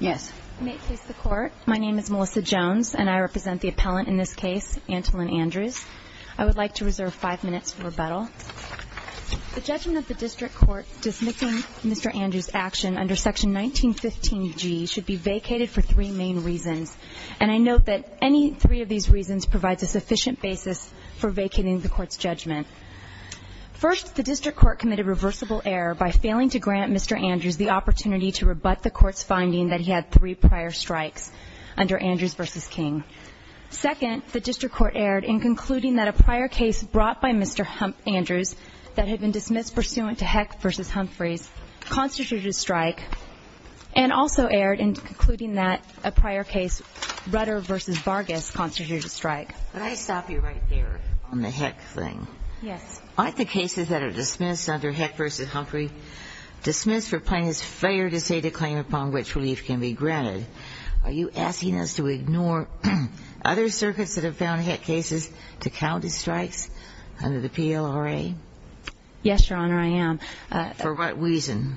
Yes. May it please the Court, my name is Melissa Jones, and I represent the appellant in this case, Antolin Andrews. I would like to reserve five minutes for rebuttal. The judgment of the District Court dismissing Mr. Andrews' action under Section 1915G should be vacated for three main reasons, and I note that any three of these reasons provides a sufficient basis for vacating the Court's judgment. First, the District Court committed reversible error by failing to grant Mr. Andrews the opportunity to rebut the Court's finding that he had three prior strikes under Andrews v. King. Second, the District Court erred in concluding that a prior case brought by Mr. Andrews that had been dismissed pursuant to Heck v. Humphreys constituted a strike, and also erred in concluding that a prior case, Rutter v. Vargas, constituted a strike. Could I stop you right there on the Heck thing? Yes. Aren't the cases that are dismissed under Heck v. Humphrey dismissed for plaintiffs' failure to say the claim upon which relief can be granted? Are you asking us to ignore other circuits that have found Heck cases to count as strikes under the PLRA? Yes, Your Honor, I am. For what reason?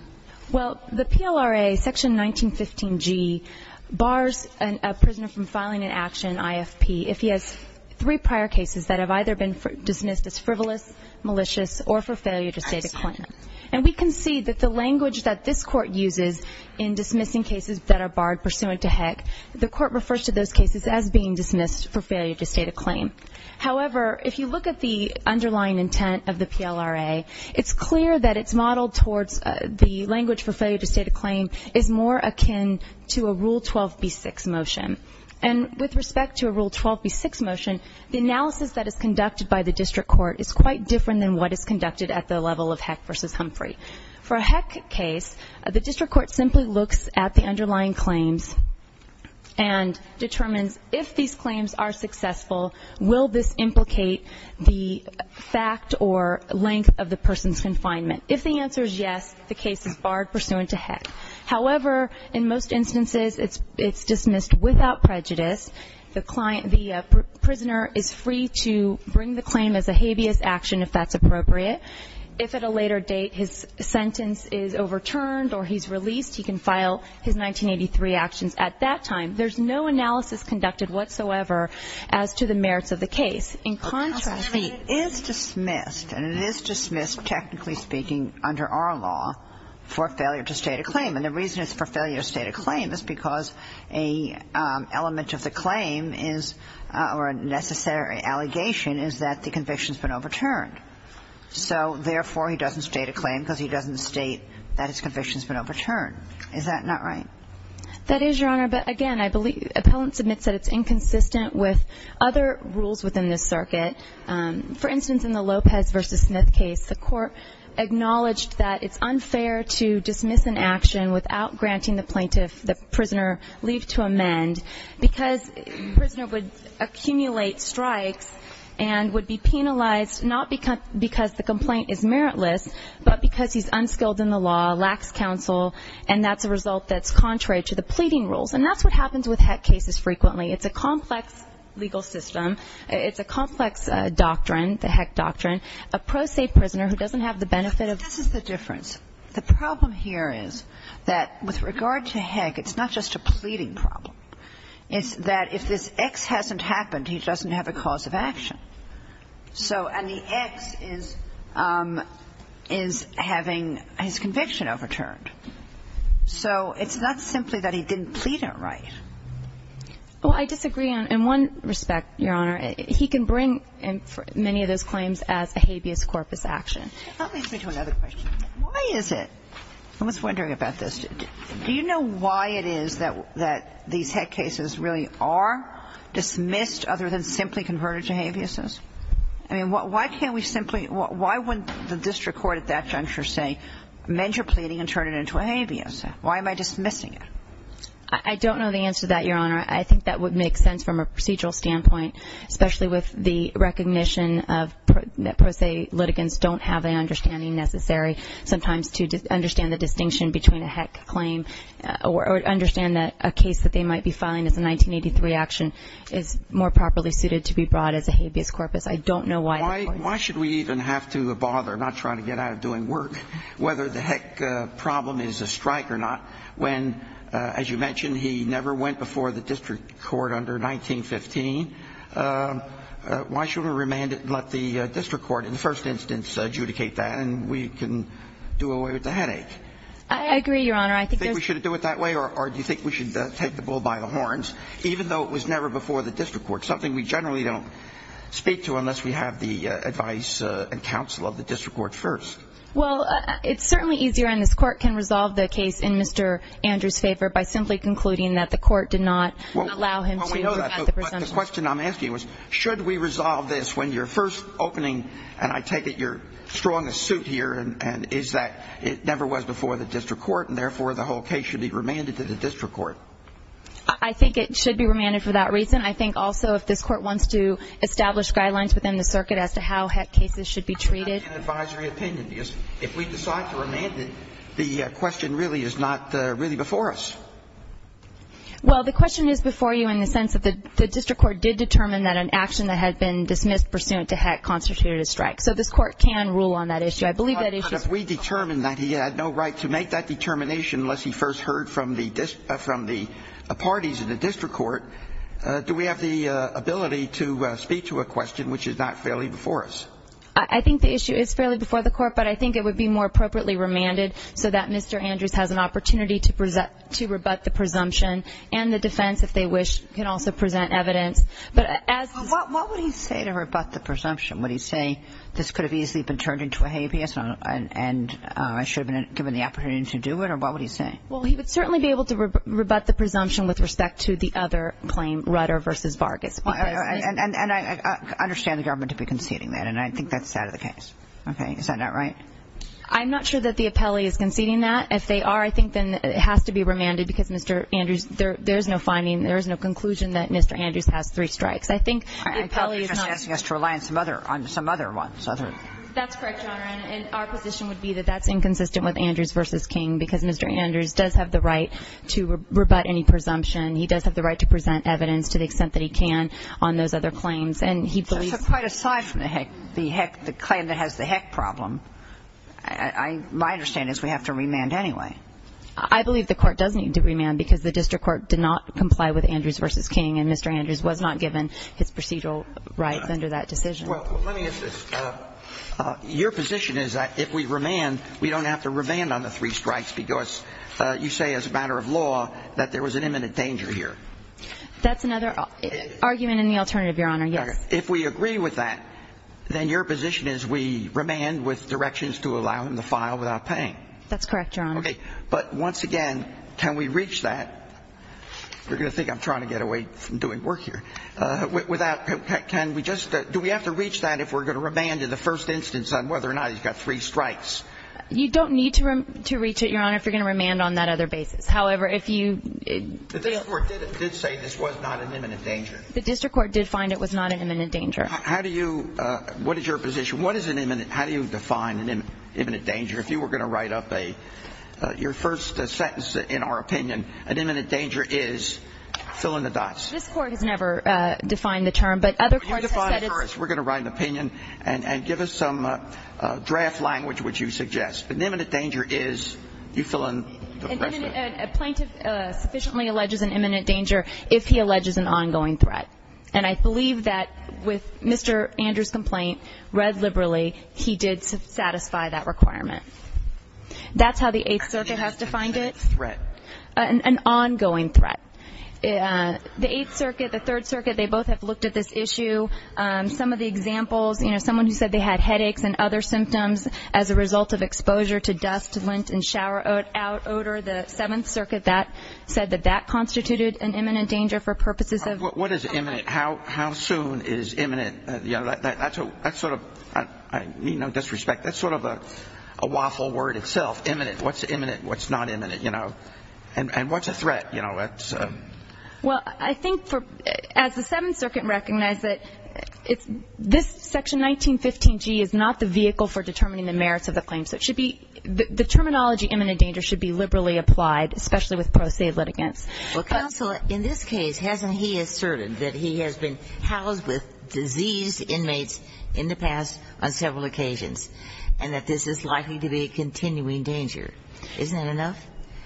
Well, the PLRA, Section 1915G, bars a prisoner from filing an action, IFP, if he has three prior cases that have either been dismissed as frivolous, malicious, or for failure to say the claim. I understand that. And we can see that the language that this Court uses in dismissing cases that are barred pursuant to Heck, the Court refers to those cases as being dismissed for failure to say the claim. However, if you look at the underlying intent of the PLRA, it's clear that its model towards the language for failure to say the claim is more akin to a Rule 12b-6 motion. And with respect to a Rule 12b-6 motion, the analysis that is conducted by the District Court is quite different than what is conducted at the level of Heck v. Humphrey. For a Heck case, the District Court simply looks at the underlying claims and determines if these claims are successful, will this implicate the fact or length of the person's confinement. If the answer is yes, the case is barred pursuant to Heck. However, in most instances, it's dismissed without prejudice. The prisoner is free to bring the claim as a habeas action, if that's appropriate. If at a later date his sentence is overturned or he's released, he can file his 1983 actions at that time. There's no analysis conducted whatsoever as to the merits of the case. In contrast, the ---- And it is dismissed. And it is dismissed, technically speaking, under our law for failure to state a claim. And the reason it's for failure to state a claim is because an element of the claim is or a necessary allegation is that the conviction's been overturned. So, therefore, he doesn't state a claim because he doesn't state that his conviction's been overturned. Is that not right? That is, Your Honor. But, again, I believe appellant submits that it's inconsistent with other rules within this circuit. For instance, in the Lopez v. Smith case, the court acknowledged that it's unfair to dismiss an action without granting the plaintiff, the prisoner, leave to amend because the prisoner would accumulate strikes and would be penalized not because the complaint is meritless, but because he's unskilled in the law, lacks counsel, and that's a result that's contrary to the pleading rules. And that's what happens with Heck cases frequently. It's a complex legal system. It's a complex doctrine, the Heck doctrine. A pro se prisoner who doesn't have the benefit of ---- But this is the difference. The problem here is that with regard to Heck, it's not just a pleading problem. It's that if this X hasn't happened, he doesn't have a cause of action. So the X is having his conviction overturned. So it's not simply that he didn't plead it right. Well, I disagree in one respect, Your Honor. He can bring many of those claims as a habeas corpus action. That leads me to another question. Why is it? I was wondering about this. Do you know why it is that these Heck cases really are dismissed other than simply converted to habeas? I mean, why can't we simply ---- Why wouldn't the district court at that juncture say, mend your pleading and turn it into a habeas? Why am I dismissing it? I don't know the answer to that, Your Honor. I think that would make sense from a procedural standpoint, especially with the recognition that pro se litigants don't have the understanding necessary sometimes to understand the distinction between a Heck claim or understand that a case that they might be filing as a 1983 action is more properly suited to be brought as a habeas corpus. I don't know why. Why should we even have to bother not trying to get out of doing work, whether the Heck problem is a strike or not, when, as you mentioned, he never went before the district court under 1915? Why shouldn't we remand it and let the district court in the first instance adjudicate that, and we can do away with the headache? I agree, Your Honor. I think there's ---- Do you think we should do it that way, or do you think we should take the bull by the horns, even though it was never before the district court, something we generally don't speak to unless we have the advice and counsel of the district court first? Well, it's certainly easier, and this court can resolve the case in Mr. Andrews' favor by simply concluding that the court did not allow him to ---- Well, we know that, but the question I'm asking was, should we resolve this when you're first opening, and I take it, your strongest suit here, and is that it never was before the district court, and therefore the whole case should be remanded to the district court? I think it should be remanded for that reason. I think also if this court wants to establish guidelines within the circuit as to how Heck cases should be treated ---- That's an advisory opinion. If we decide to remand it, the question really is not really before us. Well, the question is before you in the sense that the district court did determine that an action that had been dismissed pursuant to Heck constituted a strike. So this court can rule on that issue. I believe that issue ---- But if we determine that he had no right to make that determination unless he first heard from the parties in the district court, do we have the ability to speak to a question which is not fairly before us? I think the issue is fairly before the court, but I think it would be more appropriately remanded so that Mr. Andrews has an opportunity to rebut the presumption and the defense, if they wish, can also present evidence. But as ---- What would he say to rebut the presumption? Would he say this could have easily been turned into a habeas and I should have been given the opportunity to do it, or what would he say? Well, he would certainly be able to rebut the presumption with respect to the other claim, Rutter v. Vargas. And I understand the government to be conceding that, and I think that's out of the case. Okay. Is that not right? I'm not sure that the appellee is conceding that. If they are, I think then it has to be remanded because, Mr. Andrews, there is no finding, there is no conclusion that Mr. Andrews has three strikes. I think the appellee is not ---- You're just asking us to rely on some other ones. That's correct, Your Honor, and our position would be that that's inconsistent with Andrews v. King because Mr. Andrews does have the right to rebut any presumption. He does have the right to present evidence to the extent that he can on those other claims, and he believes ---- So quite aside from the heck, the heck, the claim that has the heck problem, my understanding is we have to remand anyway. I believe the court does need to remand because the district court did not comply with Andrews v. King and Mr. Andrews was not given his procedural rights under that decision. Well, let me ask this. Your position is that if we remand, we don't have to remand on the three strikes because you say as a matter of law that there was an imminent danger here. That's another argument in the alternative, Your Honor, yes. Okay. If we agree with that, then your position is we remand with directions to allow him to file without paying. That's correct, Your Honor. Okay. But once again, can we reach that? You're going to think I'm trying to get away from doing work here. Without ---- Can we just ---- Do we have to reach that if we're going to remand in the first instance on whether or not he's got three strikes? You don't need to reach it, Your Honor, if you're going to remand on that other basis. However, if you ---- The district court did say this was not an imminent danger. The district court did find it was not an imminent danger. How do you ---- What is your position? What is an imminent ---- How do you define an imminent danger? If you were going to write up a ---- Your first sentence in our opinion, an imminent danger is fill in the dots. This court has never defined the term, but other courts have said it's ---- But an imminent danger is you fill in the pressure. A plaintiff sufficiently alleges an imminent danger if he alleges an ongoing threat. And I believe that with Mr. Andrews' complaint read liberally, he did satisfy that requirement. That's how the Eighth Circuit has defined it. An imminent threat. An ongoing threat. The Eighth Circuit, the Third Circuit, they both have looked at this issue. Some of the examples, someone who said they had headaches and other symptoms as a result of exposure to dust, lint, and shower odor. The Seventh Circuit said that that constituted an imminent danger for purposes of ---- What is imminent? How soon is imminent? That's sort of ---- I mean no disrespect. That's sort of a waffle word itself, imminent. What's imminent? What's not imminent? And what's a threat? Well, I think as the Seventh Circuit recognized it, this Section 1915G is not the vehicle for determining the merits of the claim. So it should be ---- the terminology imminent danger should be liberally applied, especially with pro se litigants. Well, Counsel, in this case, hasn't he asserted that he has been housed with diseased inmates in the past on several occasions and that this is likely to be a continuing danger? Isn't that enough?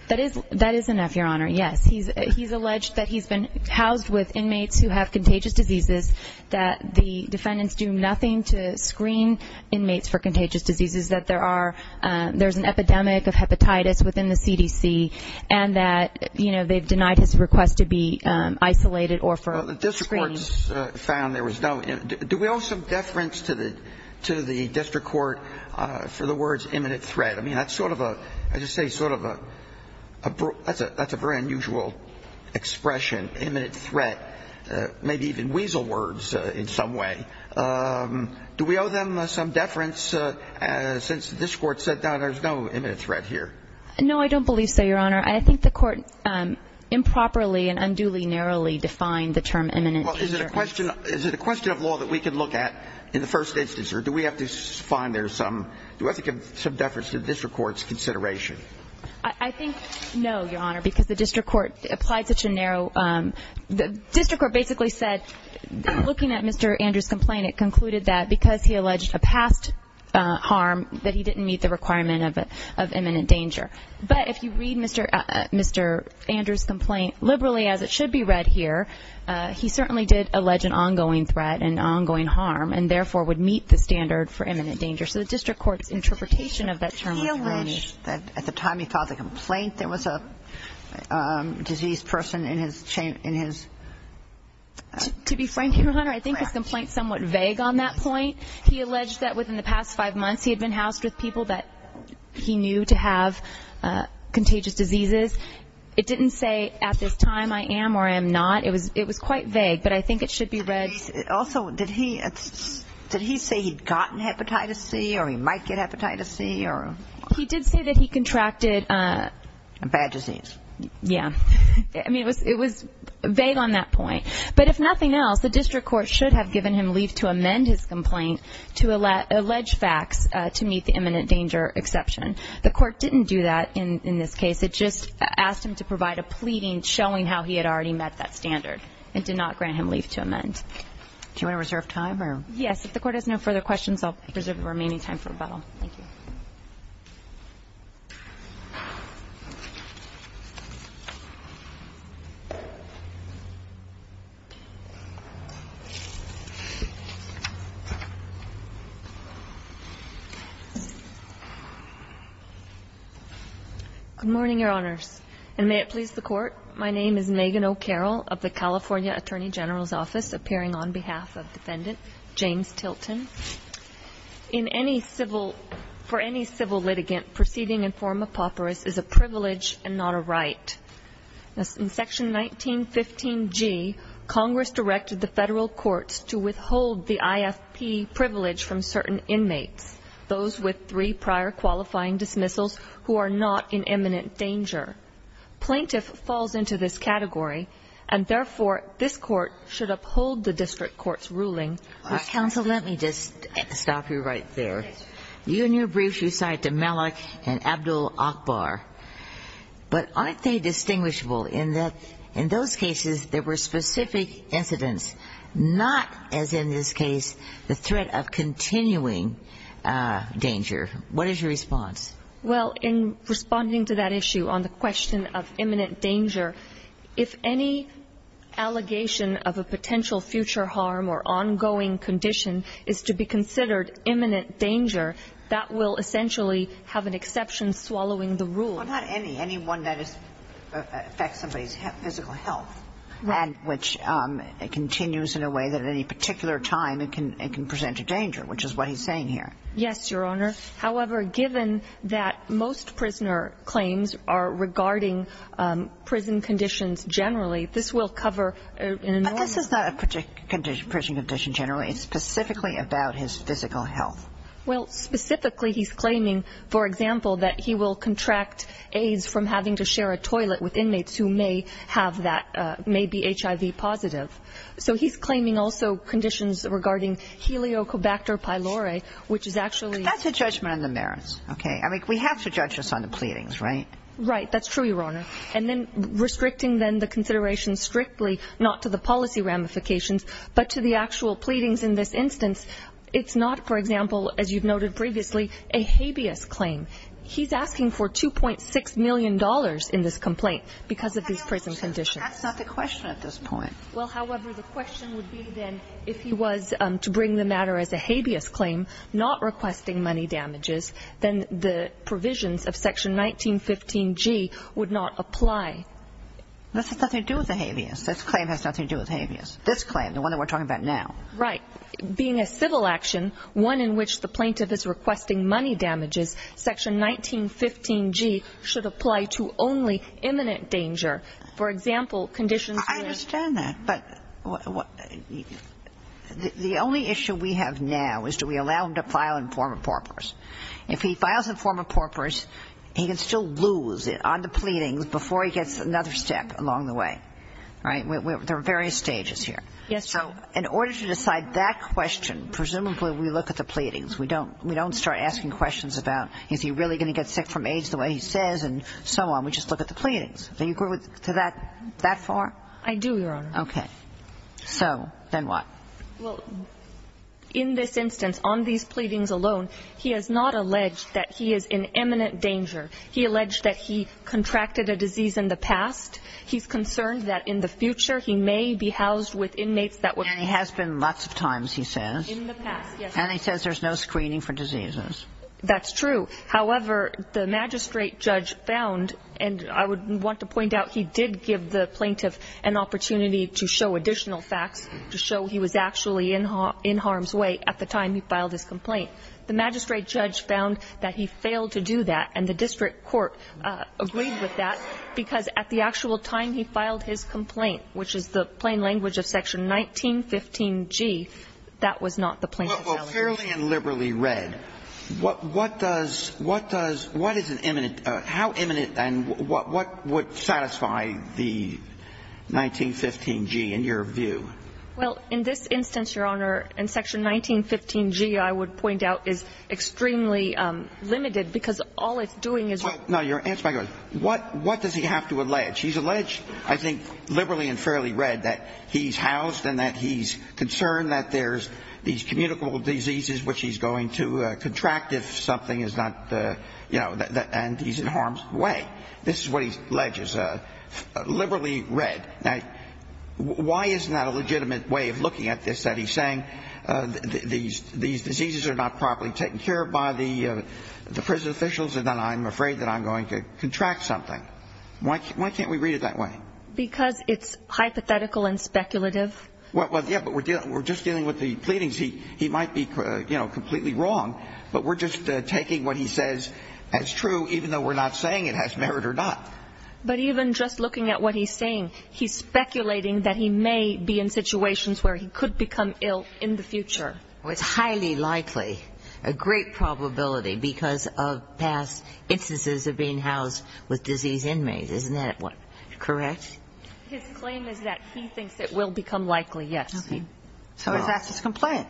That is enough, Your Honor, yes. He's alleged that he's been housed with inmates who have contagious diseases, that the defendants do nothing to screen inmates for contagious diseases, that there are ---- there's an epidemic of hepatitis within the CDC, and that, you know, they've denied his request to be isolated or for screening. The district courts found there was no ---- Do we owe some deference to the district court for the words imminent threat? I mean, that's sort of a ---- I just say sort of a ---- that's a very unusual expression, imminent threat, maybe even weasel words in some way. Do we owe them some deference since this Court said, no, there's no imminent threat here? No, I don't believe so, Your Honor. I think the Court improperly and unduly narrowly defined the term imminent danger. Well, is it a question of law that we can look at in the first instance, or do we have to find there's some ---- do we have to give some deference to the district court's consideration? I think no, Your Honor, because the district court applied such a narrow ---- the district court basically said, looking at Mr. Andrews' complaint, it concluded that because he alleged a past harm that he didn't meet the requirement of imminent danger. But if you read Mr. Andrews' complaint liberally, as it should be read here, he certainly did allege an ongoing threat, an ongoing harm, and therefore would meet the standard for imminent danger. So the district court's interpretation of that term was really ---- Did he allege that at the time he filed the complaint there was a diseased person in his ---- To be frank, Your Honor, I think his complaint is somewhat vague on that point. He alleged that within the past five months he had been housed with people that he knew to have contagious diseases. It didn't say at this time I am or am not. It was quite vague, but I think it should be read ---- Also, did he say he had gotten hepatitis C or he might get hepatitis C or ---- He did say that he contracted ---- A bad disease. Yes. I mean, it was vague on that point. But if nothing else, the district court should have given him leave to amend his complaint to allege facts to meet the imminent danger exception. The court didn't do that in this case. It just asked him to provide a pleading showing how he had already met that standard and did not grant him leave to amend. Do you want to reserve time or ---- Yes. If the Court has no further questions, I'll reserve the remaining time for rebuttal. Thank you. Good morning, Your Honors, and may it please the Court. My name is Megan O'Carroll of the California Attorney General's Office, appearing on behalf of Defendant James Tilton. In any civil ---- for any civil litigant, proceeding in form of papyrus is a privilege and not a right. In Section 1915G, Congress directed the Federal courts to withhold the IFP privilege from certain inmates, those with three prior qualifying dismissals, who are not in imminent danger. Plaintiff falls into this category, and, therefore, this Court should uphold the district court's ruling ---- Counsel, let me just stop you right there. You, in your brief, you cite Demelik and Abdul-Akbar. But aren't they distinguishable in that, in those cases, there were specific incidents, not, as in this case, the threat of continuing danger? What is your response? Well, in responding to that issue on the question of imminent danger, if any allegation of a potential future harm or ongoing condition is to be considered imminent danger, that will essentially have an exception swallowing the ruling. Well, not any. Any one that affects somebody's physical health. Right. And which continues in a way that at any particular time it can present a danger, which is what he's saying here. Yes, Your Honor. However, given that most prisoner claims are regarding prison conditions generally, this will cover an enormous ---- But this is not a prison condition generally. It's specifically about his physical health. Well, specifically he's claiming, for example, that he will contract AIDS from having to share a toilet with inmates who may have that, may be HIV positive. So he's claiming also conditions regarding helicobacter pylori, which is actually ---- But that's a judgment on the merits, okay? I mean, we have to judge this on the pleadings, right? Right. That's true, Your Honor. And then restricting then the consideration strictly not to the policy ramifications but to the actual pleadings in this instance, it's not, for example, as you've noted previously, a habeas claim. He's asking for $2.6 million in this complaint because of these prison conditions. That's not the question at this point. Well, however, the question would be then if he was to bring the matter as a habeas claim, not requesting money damages, then the provisions of Section 1915G would not apply. This has nothing to do with a habeas. This claim has nothing to do with habeas. This claim, the one that we're talking about now. Right. Being a civil action, one in which the plaintiff is requesting money damages, Section 1915G should apply to only imminent danger. For example, conditions where ---- I understand that. But the only issue we have now is do we allow him to file in form of paupers? If he files in form of paupers, he can still lose on the pleadings before he gets another step along the way. Right? There are various stages here. Yes, Your Honor. So in order to decide that question, presumably we look at the pleadings. We don't start asking questions about is he really going to get sick from AIDS the way he says and so on. We just look at the pleadings. Do you agree with that far? I do, Your Honor. Okay. So then what? Well, in this instance, on these pleadings alone, he has not alleged that he is in imminent danger. He alleged that he contracted a disease in the past. He's concerned that in the future he may be housed with inmates that were ---- And he has been lots of times, he says. In the past, yes. And he says there's no screening for diseases. That's true. However, the magistrate judge found, and I would want to point out he did give the plaintiff an opportunity to show additional facts, to show he was actually in harm's way at the time he filed his complaint. The magistrate judge found that he failed to do that, and the district court agreed with that, because at the actual time he filed his complaint, which is the plain language of Section 1915g, that was not the plaintiff's allegation. Well, fairly and liberally read, what does ---- what does ---- what is an imminent ---- how imminent and what would satisfy the 1915g, in your view? Well, in this instance, Your Honor, in Section 1915g, I would point out, is extremely limited, because all it's doing is ---- No, Your Honor, answer my question. What does he have to allege? He's alleged, I think, liberally and fairly read, that he's housed and that he's concerned that there's these communicable diseases which he's going to contract if something is not, you know, and he's in harm's way. This is what he alleges, liberally read. Now, why isn't that a legitimate way of looking at this, that he's saying these diseases are not properly taken care of by the prison officials and that I'm afraid that I'm going to contract something? Why can't we read it that way? Because it's hypothetical and speculative. Well, yes, but we're just dealing with the pleadings. He might be, you know, completely wrong, but we're just taking what he says as true, even though we're not saying it has merit or not. But even just looking at what he's saying, he's speculating that he may be in situations where he could become ill in the future. Well, it's highly likely, a great probability, because of past instances of being housed with disease inmates. Isn't that correct? His claim is that he thinks it will become likely, yes. So he's asked to complain.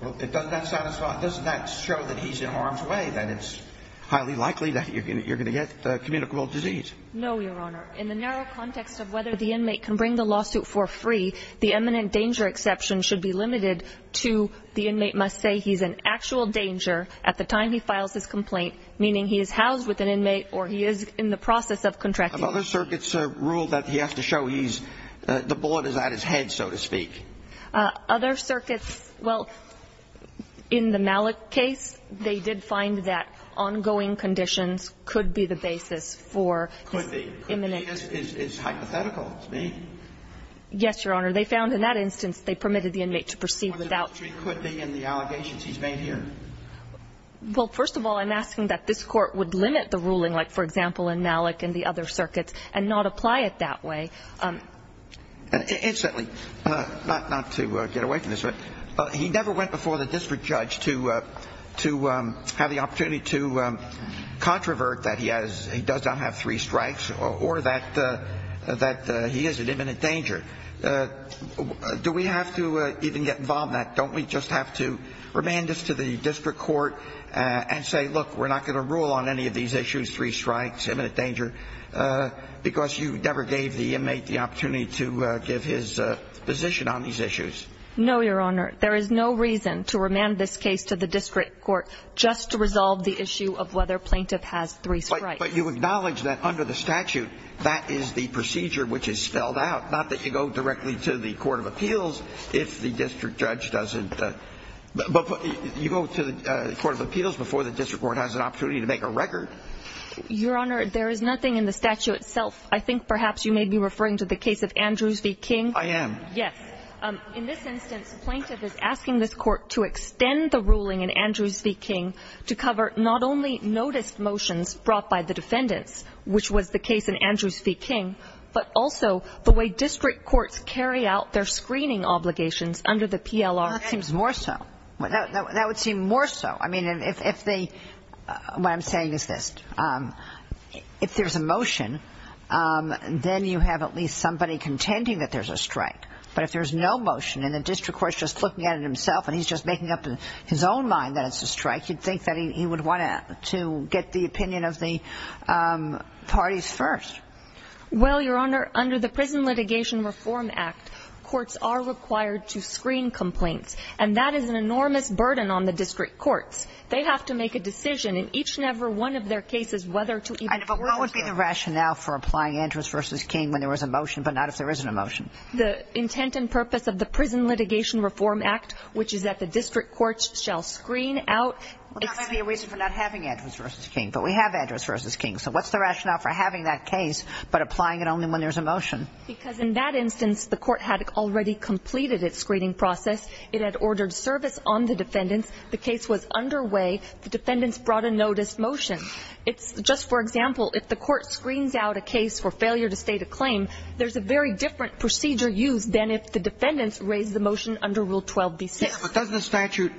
Well, doesn't that show that he's in harm's way, that it's highly likely that you're going to get communicable disease? No, Your Honor. In the narrow context of whether the inmate can bring the lawsuit for free, the eminent danger exception should be limited to the inmate must say he's in actual danger at the time he files his complaint, meaning he is housed with an inmate or he is in the process of contracting. Have other circuits ruled that he has to show he's, the bullet is at his head, so to speak? Other circuits, well, in the Malik case, they did find that ongoing conditions could be the basis for his imminent. Could be. Could be is hypothetical to me. Yes, Your Honor. They found in that instance they permitted the inmate to proceed without. What's the difference between could be and the allegations he's made here? Well, first of all, I'm asking that this Court would limit the ruling, like, for example, in Malik and the other circuits, and not apply it that way. Incidentally, not to get away from this, but he never went before the district judge to have the opportunity to controvert that he does not have three strikes or that he is in imminent danger. Do we have to even get involved in that? Don't we just have to remand this to the district court and say, look, we're not going to rule on any of these issues, three strikes, imminent danger, because you never gave the inmate the opportunity to give his position on these issues? No, Your Honor. There is no reason to remand this case to the district court just to resolve the issue of whether plaintiff has three strikes. But you acknowledge that under the statute that is the procedure which is spelled out, not that you go directly to the court of appeals if the district judge doesn't. But you go to the court of appeals before the district court has an opportunity to make a record? Your Honor, there is nothing in the statute itself. I think perhaps you may be referring to the case of Andrews v. King. I am. Yes. In this instance, plaintiff is asking this Court to extend the ruling in Andrews v. King to cover not only notice motions brought by the defendants, which was the case in Andrews v. King, but also the way district courts carry out their screening obligations under the PLR. That seems more so. That would seem more so. What I am saying is this. If there is a motion, then you have at least somebody contending that there is a strike. But if there is no motion and the district court is just looking at it himself and he is just making up his own mind that it is a strike, you would think that he would want to get the opinion of the parties first. Well, Your Honor, under the Prison Litigation Reform Act, courts are required to screen complaints. And that is an enormous burden on the district courts. They have to make a decision in each and every one of their cases whether to even close it. But what would be the rationale for applying Andrews v. King when there was a motion, but not if there isn't a motion? The intent and purpose of the Prison Litigation Reform Act, which is that the district courts shall screen out. Well, that might be a reason for not having Andrews v. King. But we have Andrews v. King. So what's the rationale for having that case but applying it only when there is a motion? Because in that instance, the court had already completed its screening process. It had ordered service on the defendants. The case was underway. The defendants brought a notice motion. It's just for example, if the court screens out a case for failure to state a claim, there is a very different procedure used than if the defendants raised the motion under Rule 12b-6. Yes, but doesn't the statute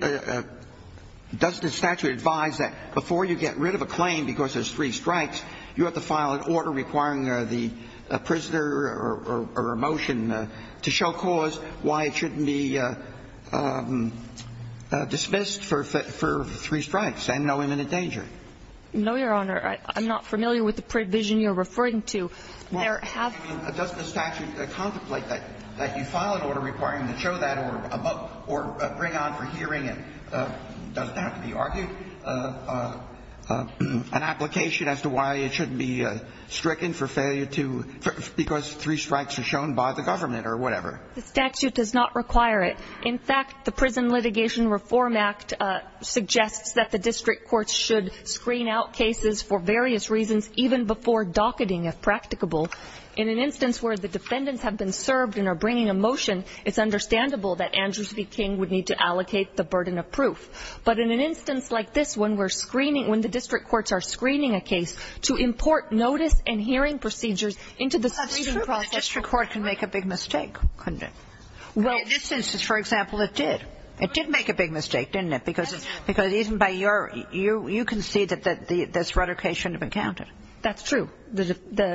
advise that before you get rid of a claim because there's three strikes, you have to file an order requiring the prisoner or a motion to show cause why it shouldn't be dismissed for three strikes and no imminent danger? No, Your Honor. I'm not familiar with the provision you're referring to. There have been. Does the statute contemplate that you file an order requiring to show that or bring on for hearing and does that have to be argued? I don't have an application as to why it shouldn't be stricken for failure to because three strikes are shown by the government or whatever. The statute does not require it. In fact, the Prison Litigation Reform Act suggests that the district courts should screen out cases for various reasons even before docketing if practicable. In an instance where the defendants have been served and are bringing a motion, it's understandable that Andrews v. King would need to allocate the burden of proof. But in an instance like this when we're screening, when the district courts are screening a case to import notice and hearing procedures into the screening process. That's true, but the district court can make a big mistake, couldn't it? In this instance, for example, it did. It did make a big mistake, didn't it? Because even by your, you concede that this Rutter case shouldn't have been counted. That's true. The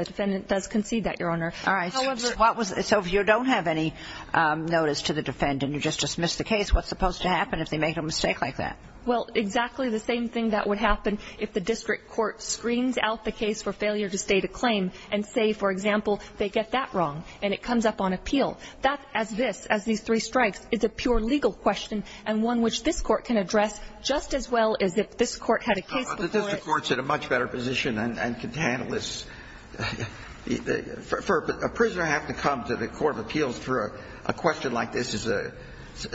defendant does concede that, Your Honor. All right. So if you don't have any notice to the defendant, you just dismiss the case, what's Well, exactly the same thing that would happen if the district court screens out the case for failure to state a claim and say, for example, they get that wrong and it comes up on appeal. That, as this, as these three strikes, is a pure legal question and one which this court can address just as well as if this court had a case before it. The district court's in a much better position and can handle this. For a prisoner to have to come to the court of appeals for a question like this is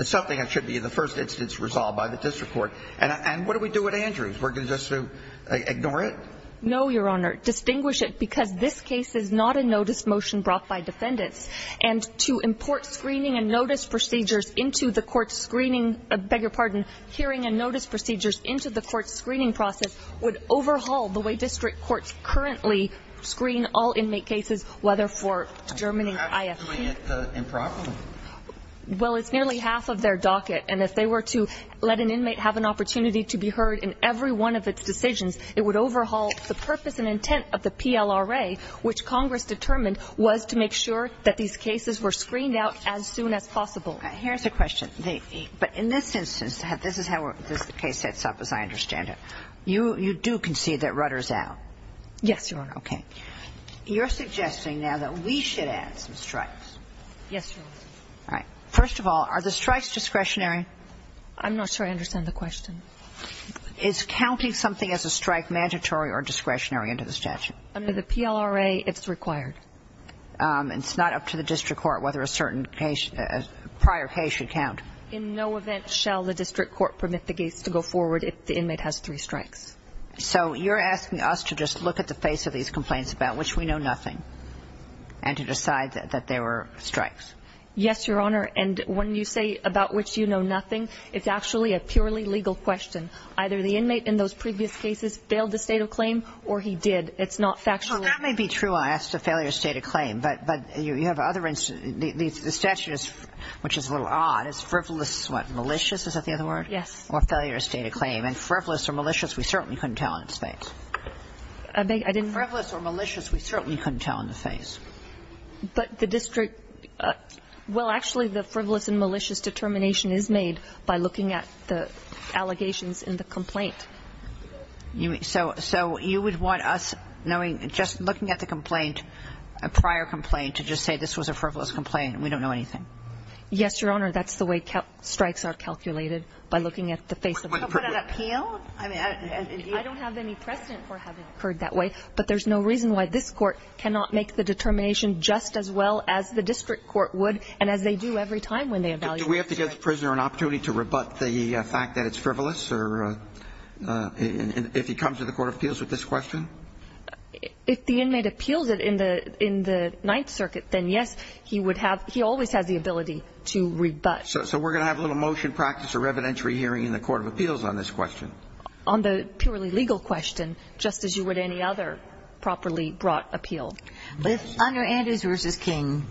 something that should be in the first instance resolved by the district court. And what do we do with Andrews? We're going to just ignore it? No, Your Honor. Distinguish it because this case is not a notice motion brought by defendants. And to import screening and notice procedures into the court's screening, I beg your pardon, hearing and notice procedures into the court's screening process would overhaul the way district courts currently screen all inmate cases, whether for determining IFP. Absolutely improper. Well, it's nearly half of their docket. And if they were to let an inmate have an opportunity to be heard in every one of its decisions, it would overhaul the purpose and intent of the PLRA, which Congress determined was to make sure that these cases were screened out as soon as possible. Here's a question. But in this instance, this is how this case sets up, as I understand it. You do concede that Rudder's out? Yes, Your Honor. Okay. You're suggesting now that we should add some strikes? Yes, Your Honor. All right. First of all, are the strikes discretionary? I'm not sure I understand the question. Is counting something as a strike mandatory or discretionary under the statute? Under the PLRA, it's required. It's not up to the district court whether a certain prior case should count? In no event shall the district court permit the case to go forward if the inmate has three strikes. So you're asking us to just look at the face of these complaints about which we know nothing and to decide that they were strikes? Yes, Your Honor. And when you say about which you know nothing, it's actually a purely legal question. Either the inmate in those previous cases failed the state of claim or he did. It's not factual. Well, that may be true as to failure of state of claim. But you have other instances. The statute, which is a little odd, is frivolous, what, malicious? Is that the other word? Yes. Or failure of state of claim. And frivolous or malicious, we certainly couldn't tell in this case. Frivolous or malicious, we certainly couldn't tell in the face. But the district – well, actually, the frivolous and malicious determination is made by looking at the allegations in the complaint. So you would want us knowing – just looking at the complaint, a prior complaint, to just say this was a frivolous complaint and we don't know anything? Yes, Your Honor. That's the way strikes are calculated, by looking at the face of the complaint. Would you put an appeal? I don't have any precedent for having it occurred that way. But there's no reason why this court cannot make the determination just as well as the district court would and as they do every time when they evaluate. Do we have to give the prisoner an opportunity to rebut the fact that it's frivolous if he comes to the court of appeals with this question? If the inmate appeals it in the Ninth Circuit, then yes, he would have – he always has the ability to rebut. So we're going to have a little motion, practice, or evidentiary hearing in the court of appeals on this question? On the purely legal question, just as you would any other properly brought appeal. But under Andrews v. King,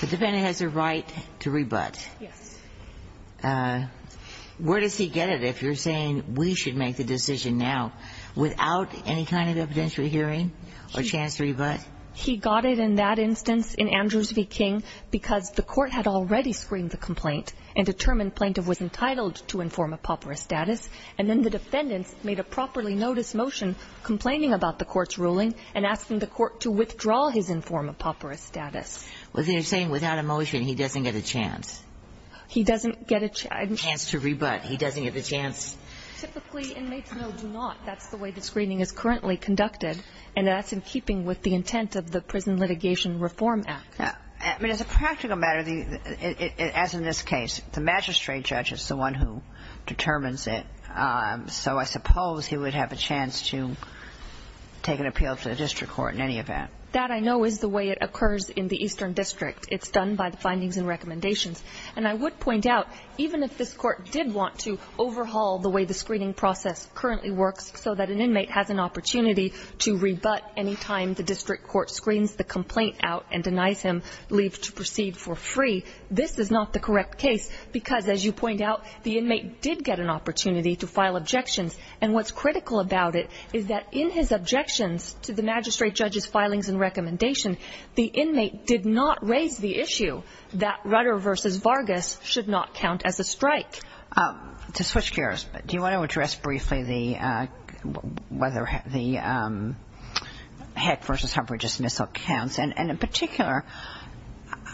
the defendant has a right to rebut. Yes. Where does he get it if you're saying we should make the decision now without any kind of evidentiary hearing or chance to rebut? He got it in that instance in Andrews v. King because the court had already screened the complaint and determined Plaintiff was entitled to inform of pauperous status, and then the defendants made a properly noticed motion complaining about the court's ruling and asking the court to withdraw his inform of pauperous status. Well, then you're saying without a motion he doesn't get a chance. He doesn't get a chance. Chance to rebut. He doesn't get a chance. Typically, inmates no, do not. That's the way the screening is currently conducted, and that's in keeping with the intent of the Prison Litigation Reform Act. I mean, as a practical matter, as in this case, the magistrate judge is the one who determines it. So I suppose he would have a chance to take an appeal to the district court in any event. That, I know, is the way it occurs in the Eastern District. It's done by the findings and recommendations. And I would point out, even if this court did want to overhaul the way the screening process currently works so that an inmate has an opportunity to rebut any time the district court screens the complaint out and denies him leave to proceed for free, this is not the correct case because, as you point out, the inmate did get an opportunity to file objections. And what's critical about it is that in his objections to the magistrate judge's filings and recommendation, the inmate did not raise the issue that Rudder v. Vargas should not count as a strike. To switch gears, do you want to address briefly whether the Heck v. Humphrey dismissal counts? And in particular,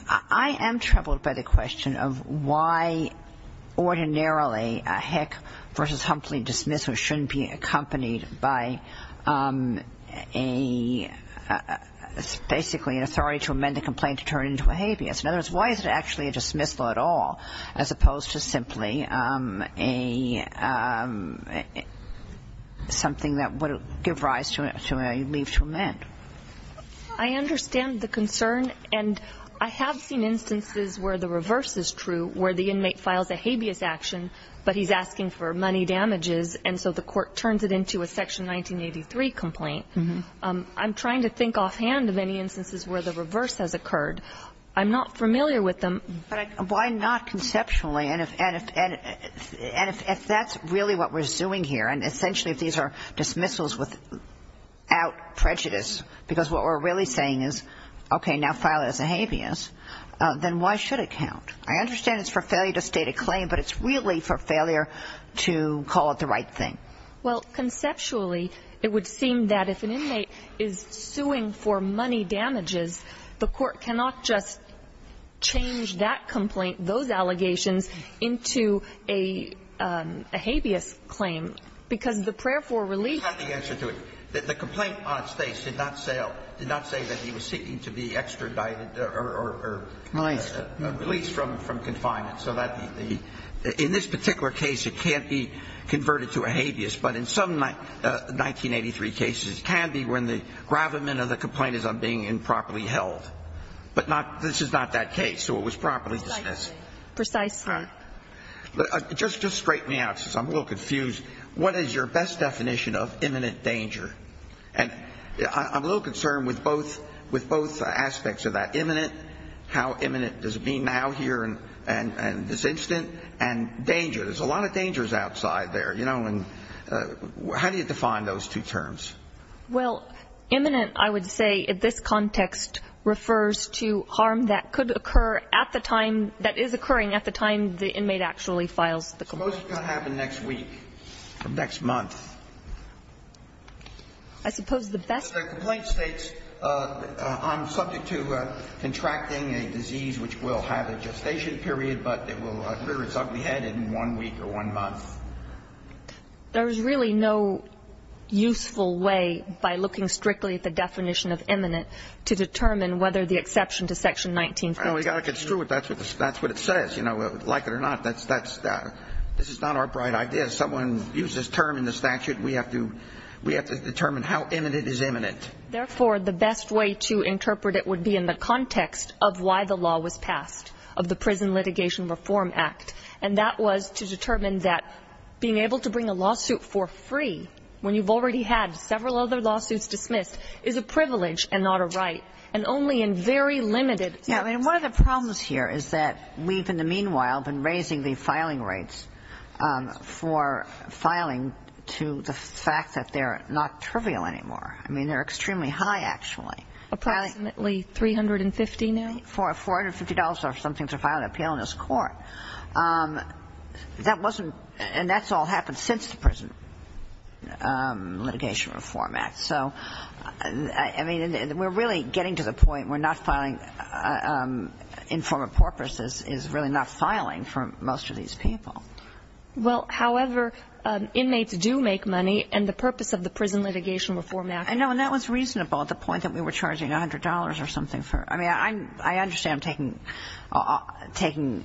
I am troubled by the question of why ordinarily a Heck v. Humphrey dismissal shouldn't be accompanied by basically an authority to amend the complaint to turn it into a habeas. In other words, why is it actually a dismissal at all, as opposed to simply something that would give rise to a leave to amend? I understand the concern. And I have seen instances where the reverse is true, where the inmate files a habeas action, but he's asking for money damages, and so the court turns it into a Section 1983 complaint. I'm trying to think offhand of any instances where the reverse has occurred. I'm not familiar with them. But why not conceptually? And if that's really what we're suing here, and essentially these are dismissals without prejudice, because what we're really saying is, okay, now file it as a habeas, then why should it count? I understand it's for failure to state a claim, but it's really for failure to call it the right thing. Well, conceptually, it would seem that if an inmate is suing for money damages, the court cannot just change that complaint, those allegations, into a habeas claim, because the prayer for relief. That's not the answer to it. The complaint on its face did not say that he was seeking to be extradited or released from confinement. So in this particular case, it can't be converted to a habeas. But in some 1983 cases, it can be when the gravamen of the complaint is on being improperly held. But this is not that case, so it was properly dismissed. Precisely. Precisely. Just straighten me out, because I'm a little confused. What is your best definition of imminent danger? And I'm a little concerned with both aspects of that, imminent, how imminent does it mean now here and this incident, and danger. There's a lot of dangers outside there. You know, and how do you define those two terms? Well, imminent, I would say, in this context, refers to harm that could occur at the time, that is occurring at the time the inmate actually files the complaint. Suppose it's going to happen next week or next month? I suppose the best – The complaint states I'm subject to contracting a disease which will have a gestation period, but it will clear its ugly head in one week or one month. There's really no useful way, by looking strictly at the definition of imminent, to determine whether the exception to Section 1913 – Well, we've got to get through it. That's what it says. You know, like it or not, that's – this is not our bright idea. Someone used this term in the statute. We have to determine how imminent is imminent. Therefore, the best way to interpret it would be in the context of why the law was passed, of the Prison Litigation Reform Act. And that was to determine that being able to bring a lawsuit for free, when you've already had several other lawsuits dismissed, is a privilege and not a right. And only in very limited – Yeah. I mean, one of the problems here is that we've, in the meanwhile, been raising the filing rates for filing to the fact that they're not trivial anymore. I mean, they're extremely high, actually. Approximately $350 now? For $450 or something to file an appeal in this Court. That wasn't – and that's all happened since the Prison Litigation Reform Act. So, I mean, we're really getting to the point where not filing in form of porpoises is really not filing for most of these people. Well, however, inmates do make money, and the purpose of the Prison Litigation Reform Act – I know, and that was reasonable at the point that we were charging $100 or something for – I mean, I understand I'm taking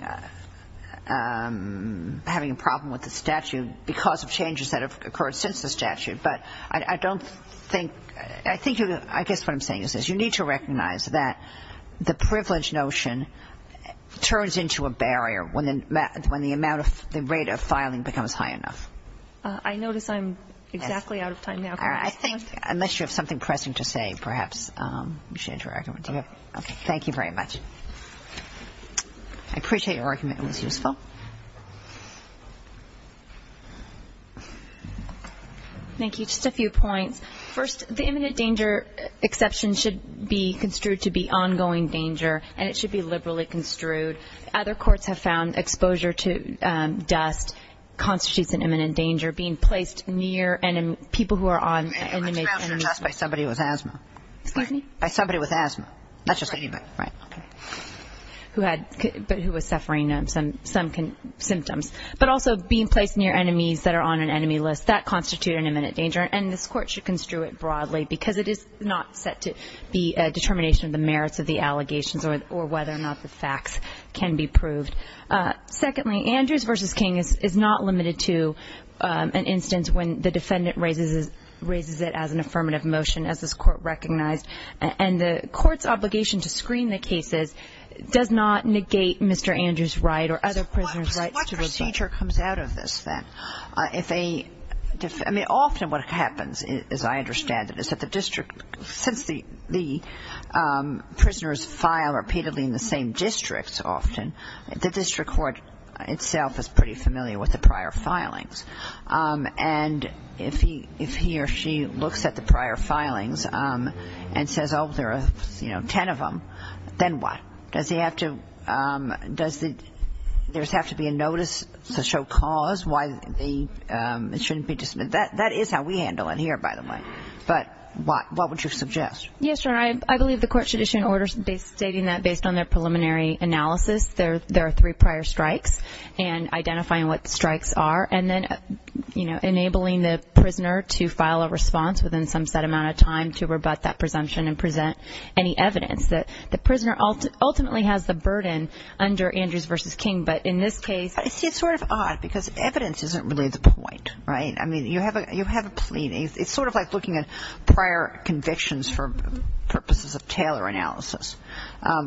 – having a problem with the statute because of changes that have occurred since the statute. But I don't think – I think you – I guess what I'm saying is this. You need to recognize that the privilege notion turns into a barrier when the amount of – the rate of filing becomes high enough. I notice I'm exactly out of time now. I think, unless you have something pressing to say, perhaps we should interrupt. Thank you very much. I appreciate your argument. It was useful. Thank you. Just a few points. First, the imminent danger exception should be construed to be ongoing danger, and it should be liberally construed. Other courts have found exposure to dust constitutes an imminent danger. Being placed near – people who are on – Exposure to dust by somebody with asthma. Excuse me? By somebody with asthma. That's just anybody. Right. Okay. Who had – but who was suffering some symptoms. But also being placed near enemies that are on an enemy list, that constitutes an imminent danger, and this Court should construe it broadly because it is not set to be a determination of the merits of the allegations or whether or not the facts can be proved. Secondly, Andrews v. King is not limited to an instance when the defendant raises it as an affirmative motion, as this Court recognized. And the Court's obligation to screen the cases does not negate Mr. Andrews' right or other prisoners' rights. What procedure comes out of this, then? If a – I mean, often what happens, as I understand it, is that the district – the district court itself is pretty familiar with the prior filings. And if he or she looks at the prior filings and says, oh, there are, you know, 10 of them, then what? Does he have to – does the – does there have to be a notice to show cause why they shouldn't be – that is how we handle it here, by the way. But what would you suggest? Yes, Your Honor, I believe the Court should issue an order stating that based on their preliminary analysis. There are three prior strikes and identifying what strikes are and then, you know, enabling the prisoner to file a response within some set amount of time to rebut that presumption and present any evidence that the prisoner ultimately has the burden under Andrews v. King. But in this case – See, it's sort of odd because evidence isn't really the point, right? I mean, you have a – you have a plea. It's sort of like looking at prior convictions for purposes of Taylor analysis.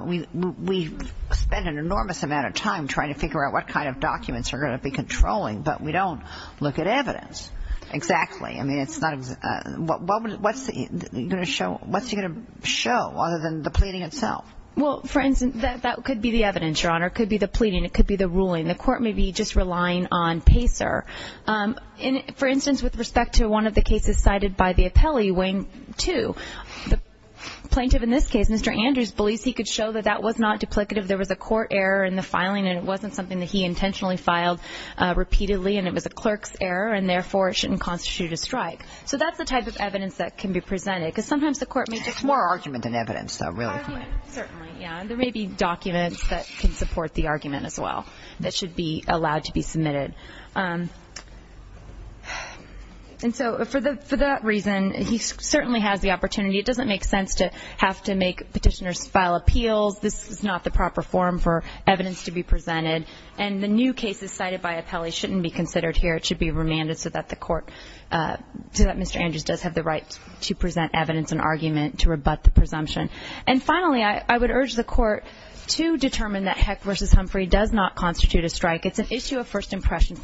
We spend an enormous amount of time trying to figure out what kind of documents are going to be controlling, but we don't look at evidence exactly. I mean, it's not – what's it going to show other than the pleading itself? Well, for instance, that could be the evidence, Your Honor. It could be the pleading. It could be the ruling. The Court may be just relying on PACER. For instance, with respect to one of the cases cited by the appellee, Wing 2, the plaintiff in this case, Mr. Andrews, believes he could show that that was not duplicative. There was a court error in the filing, and it wasn't something that he intentionally filed repeatedly, and it was a clerk's error, and therefore it shouldn't constitute a strike. So that's the type of evidence that can be presented, because sometimes the Court may just – It's more argument than evidence, though, really. Certainly, yeah. that should be allowed to be submitted. And so for that reason, he certainly has the opportunity. It doesn't make sense to have to make petitioners file appeals. This is not the proper form for evidence to be presented, and the new cases cited by appellees shouldn't be considered here. It should be remanded so that the Court – so that Mr. Andrews does have the right to present evidence and argument to rebut the presumption. And finally, I would urge the Court to determine that Heck v. Humphrey does not constitute a strike. It's an issue of first impression.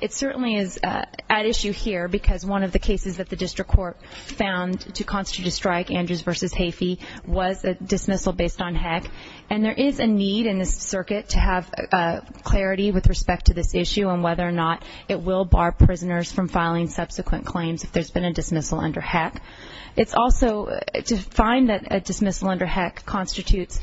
It certainly is at issue here, because one of the cases that the District Court found to constitute a strike, Andrews v. Heafey, was a dismissal based on Heck. And there is a need in this circuit to have clarity with respect to this issue on whether or not it will bar prisoners from filing subsequent claims if there's been a dismissal under Heck. It's also – to find that a dismissal under Heck constitutes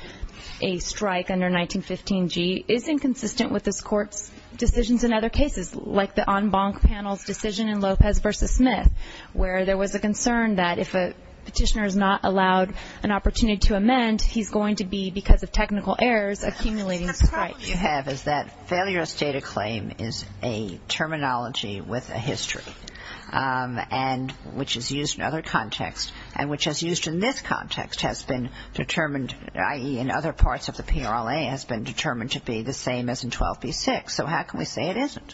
a strike under 1915g is inconsistent with this Court's decisions in other cases, like the en banc panel's decision in Lopez v. Smith, where there was a concern that if a petitioner is not allowed an opportunity to amend, he's going to be, because of technical errors, accumulating strikes. The problem you have is that failure of state of claim is a terminology with a history, and which is used in other contexts, and which is used in this context has been determined – So how can we say it isn't?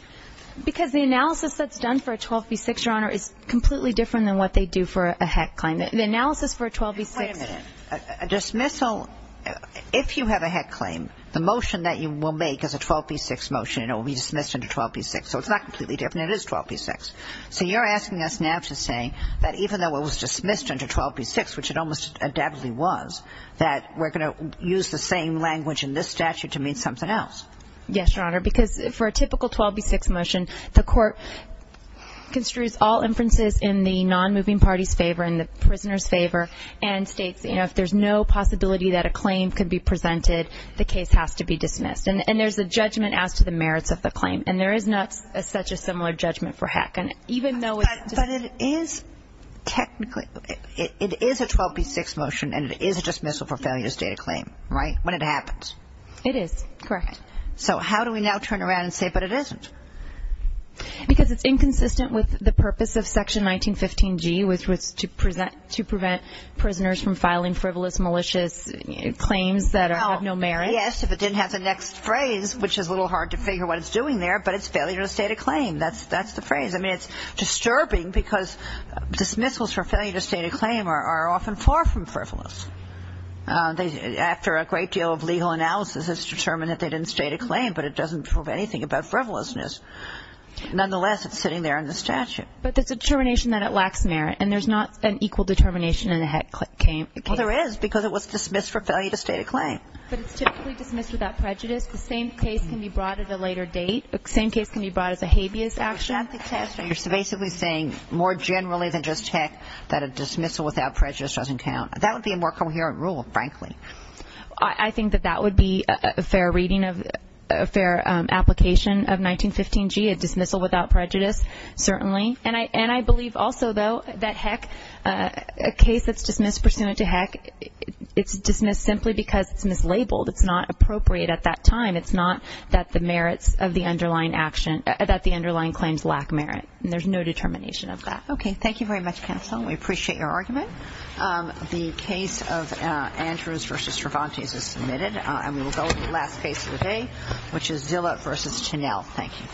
Because the analysis that's done for a 12b-6, Your Honor, is completely different than what they do for a Heck claim. The analysis for a 12b-6 – Wait a minute. A dismissal – if you have a Heck claim, the motion that you will make is a 12b-6 motion, and it will be dismissed into 12b-6. So it's not completely different. It is 12b-6. So you're asking us now to say that even though it was dismissed into 12b-6, which it almost undoubtedly was, that we're going to use the same language in this statute to mean something else. Yes, Your Honor, because for a typical 12b-6 motion, the court construes all inferences in the non-moving party's favor and the prisoner's favor, and states, you know, if there's no possibility that a claim could be presented, the case has to be dismissed. And there's a judgment as to the merits of the claim, and there is not such a similar judgment for Heck. But it is technically – it is a 12b-6 motion, and it is a dismissal for failure to state a claim, right, when it happens. It is. Correct. So how do we now turn around and say, but it isn't? Because it's inconsistent with the purpose of Section 1915G, which was to prevent prisoners from filing frivolous, malicious claims that have no merit. Yes, if it didn't have the next phrase, which is a little hard to figure what it's doing there, but it's failure to state a claim. That's the phrase. I mean, it's disturbing because dismissals for failure to state a claim are often far from frivolous. After a great deal of legal analysis, it's determined that they didn't state a claim, but it doesn't prove anything about frivolousness. Nonetheless, it's sitting there in the statute. But it's a determination that it lacks merit, and there's not an equal determination in the Heck case. Well, there is, because it was dismissed for failure to state a claim. But it's typically dismissed without prejudice. The same case can be brought at a later date. The same case can be brought as a habeas action. You're basically saying, more generally than just Heck, that a dismissal without prejudice doesn't count. That would be a more coherent rule, frankly. I think that that would be a fair reading, a fair application of 1915G, a dismissal without prejudice, certainly. And I believe also, though, that Heck, a case that's dismissed pursuant to Heck, it's dismissed simply because it's mislabeled. It's not appropriate at that time. It's not that the merits of the underlying action – that the underlying claims lack merit. And there's no determination of that. Okay. Thank you very much, counsel. We appreciate your argument. The case of Andrews v. Trevante is submitted. And we will go to the last case of the day, which is Zillow v. Chenelle. Thank you. Thank you.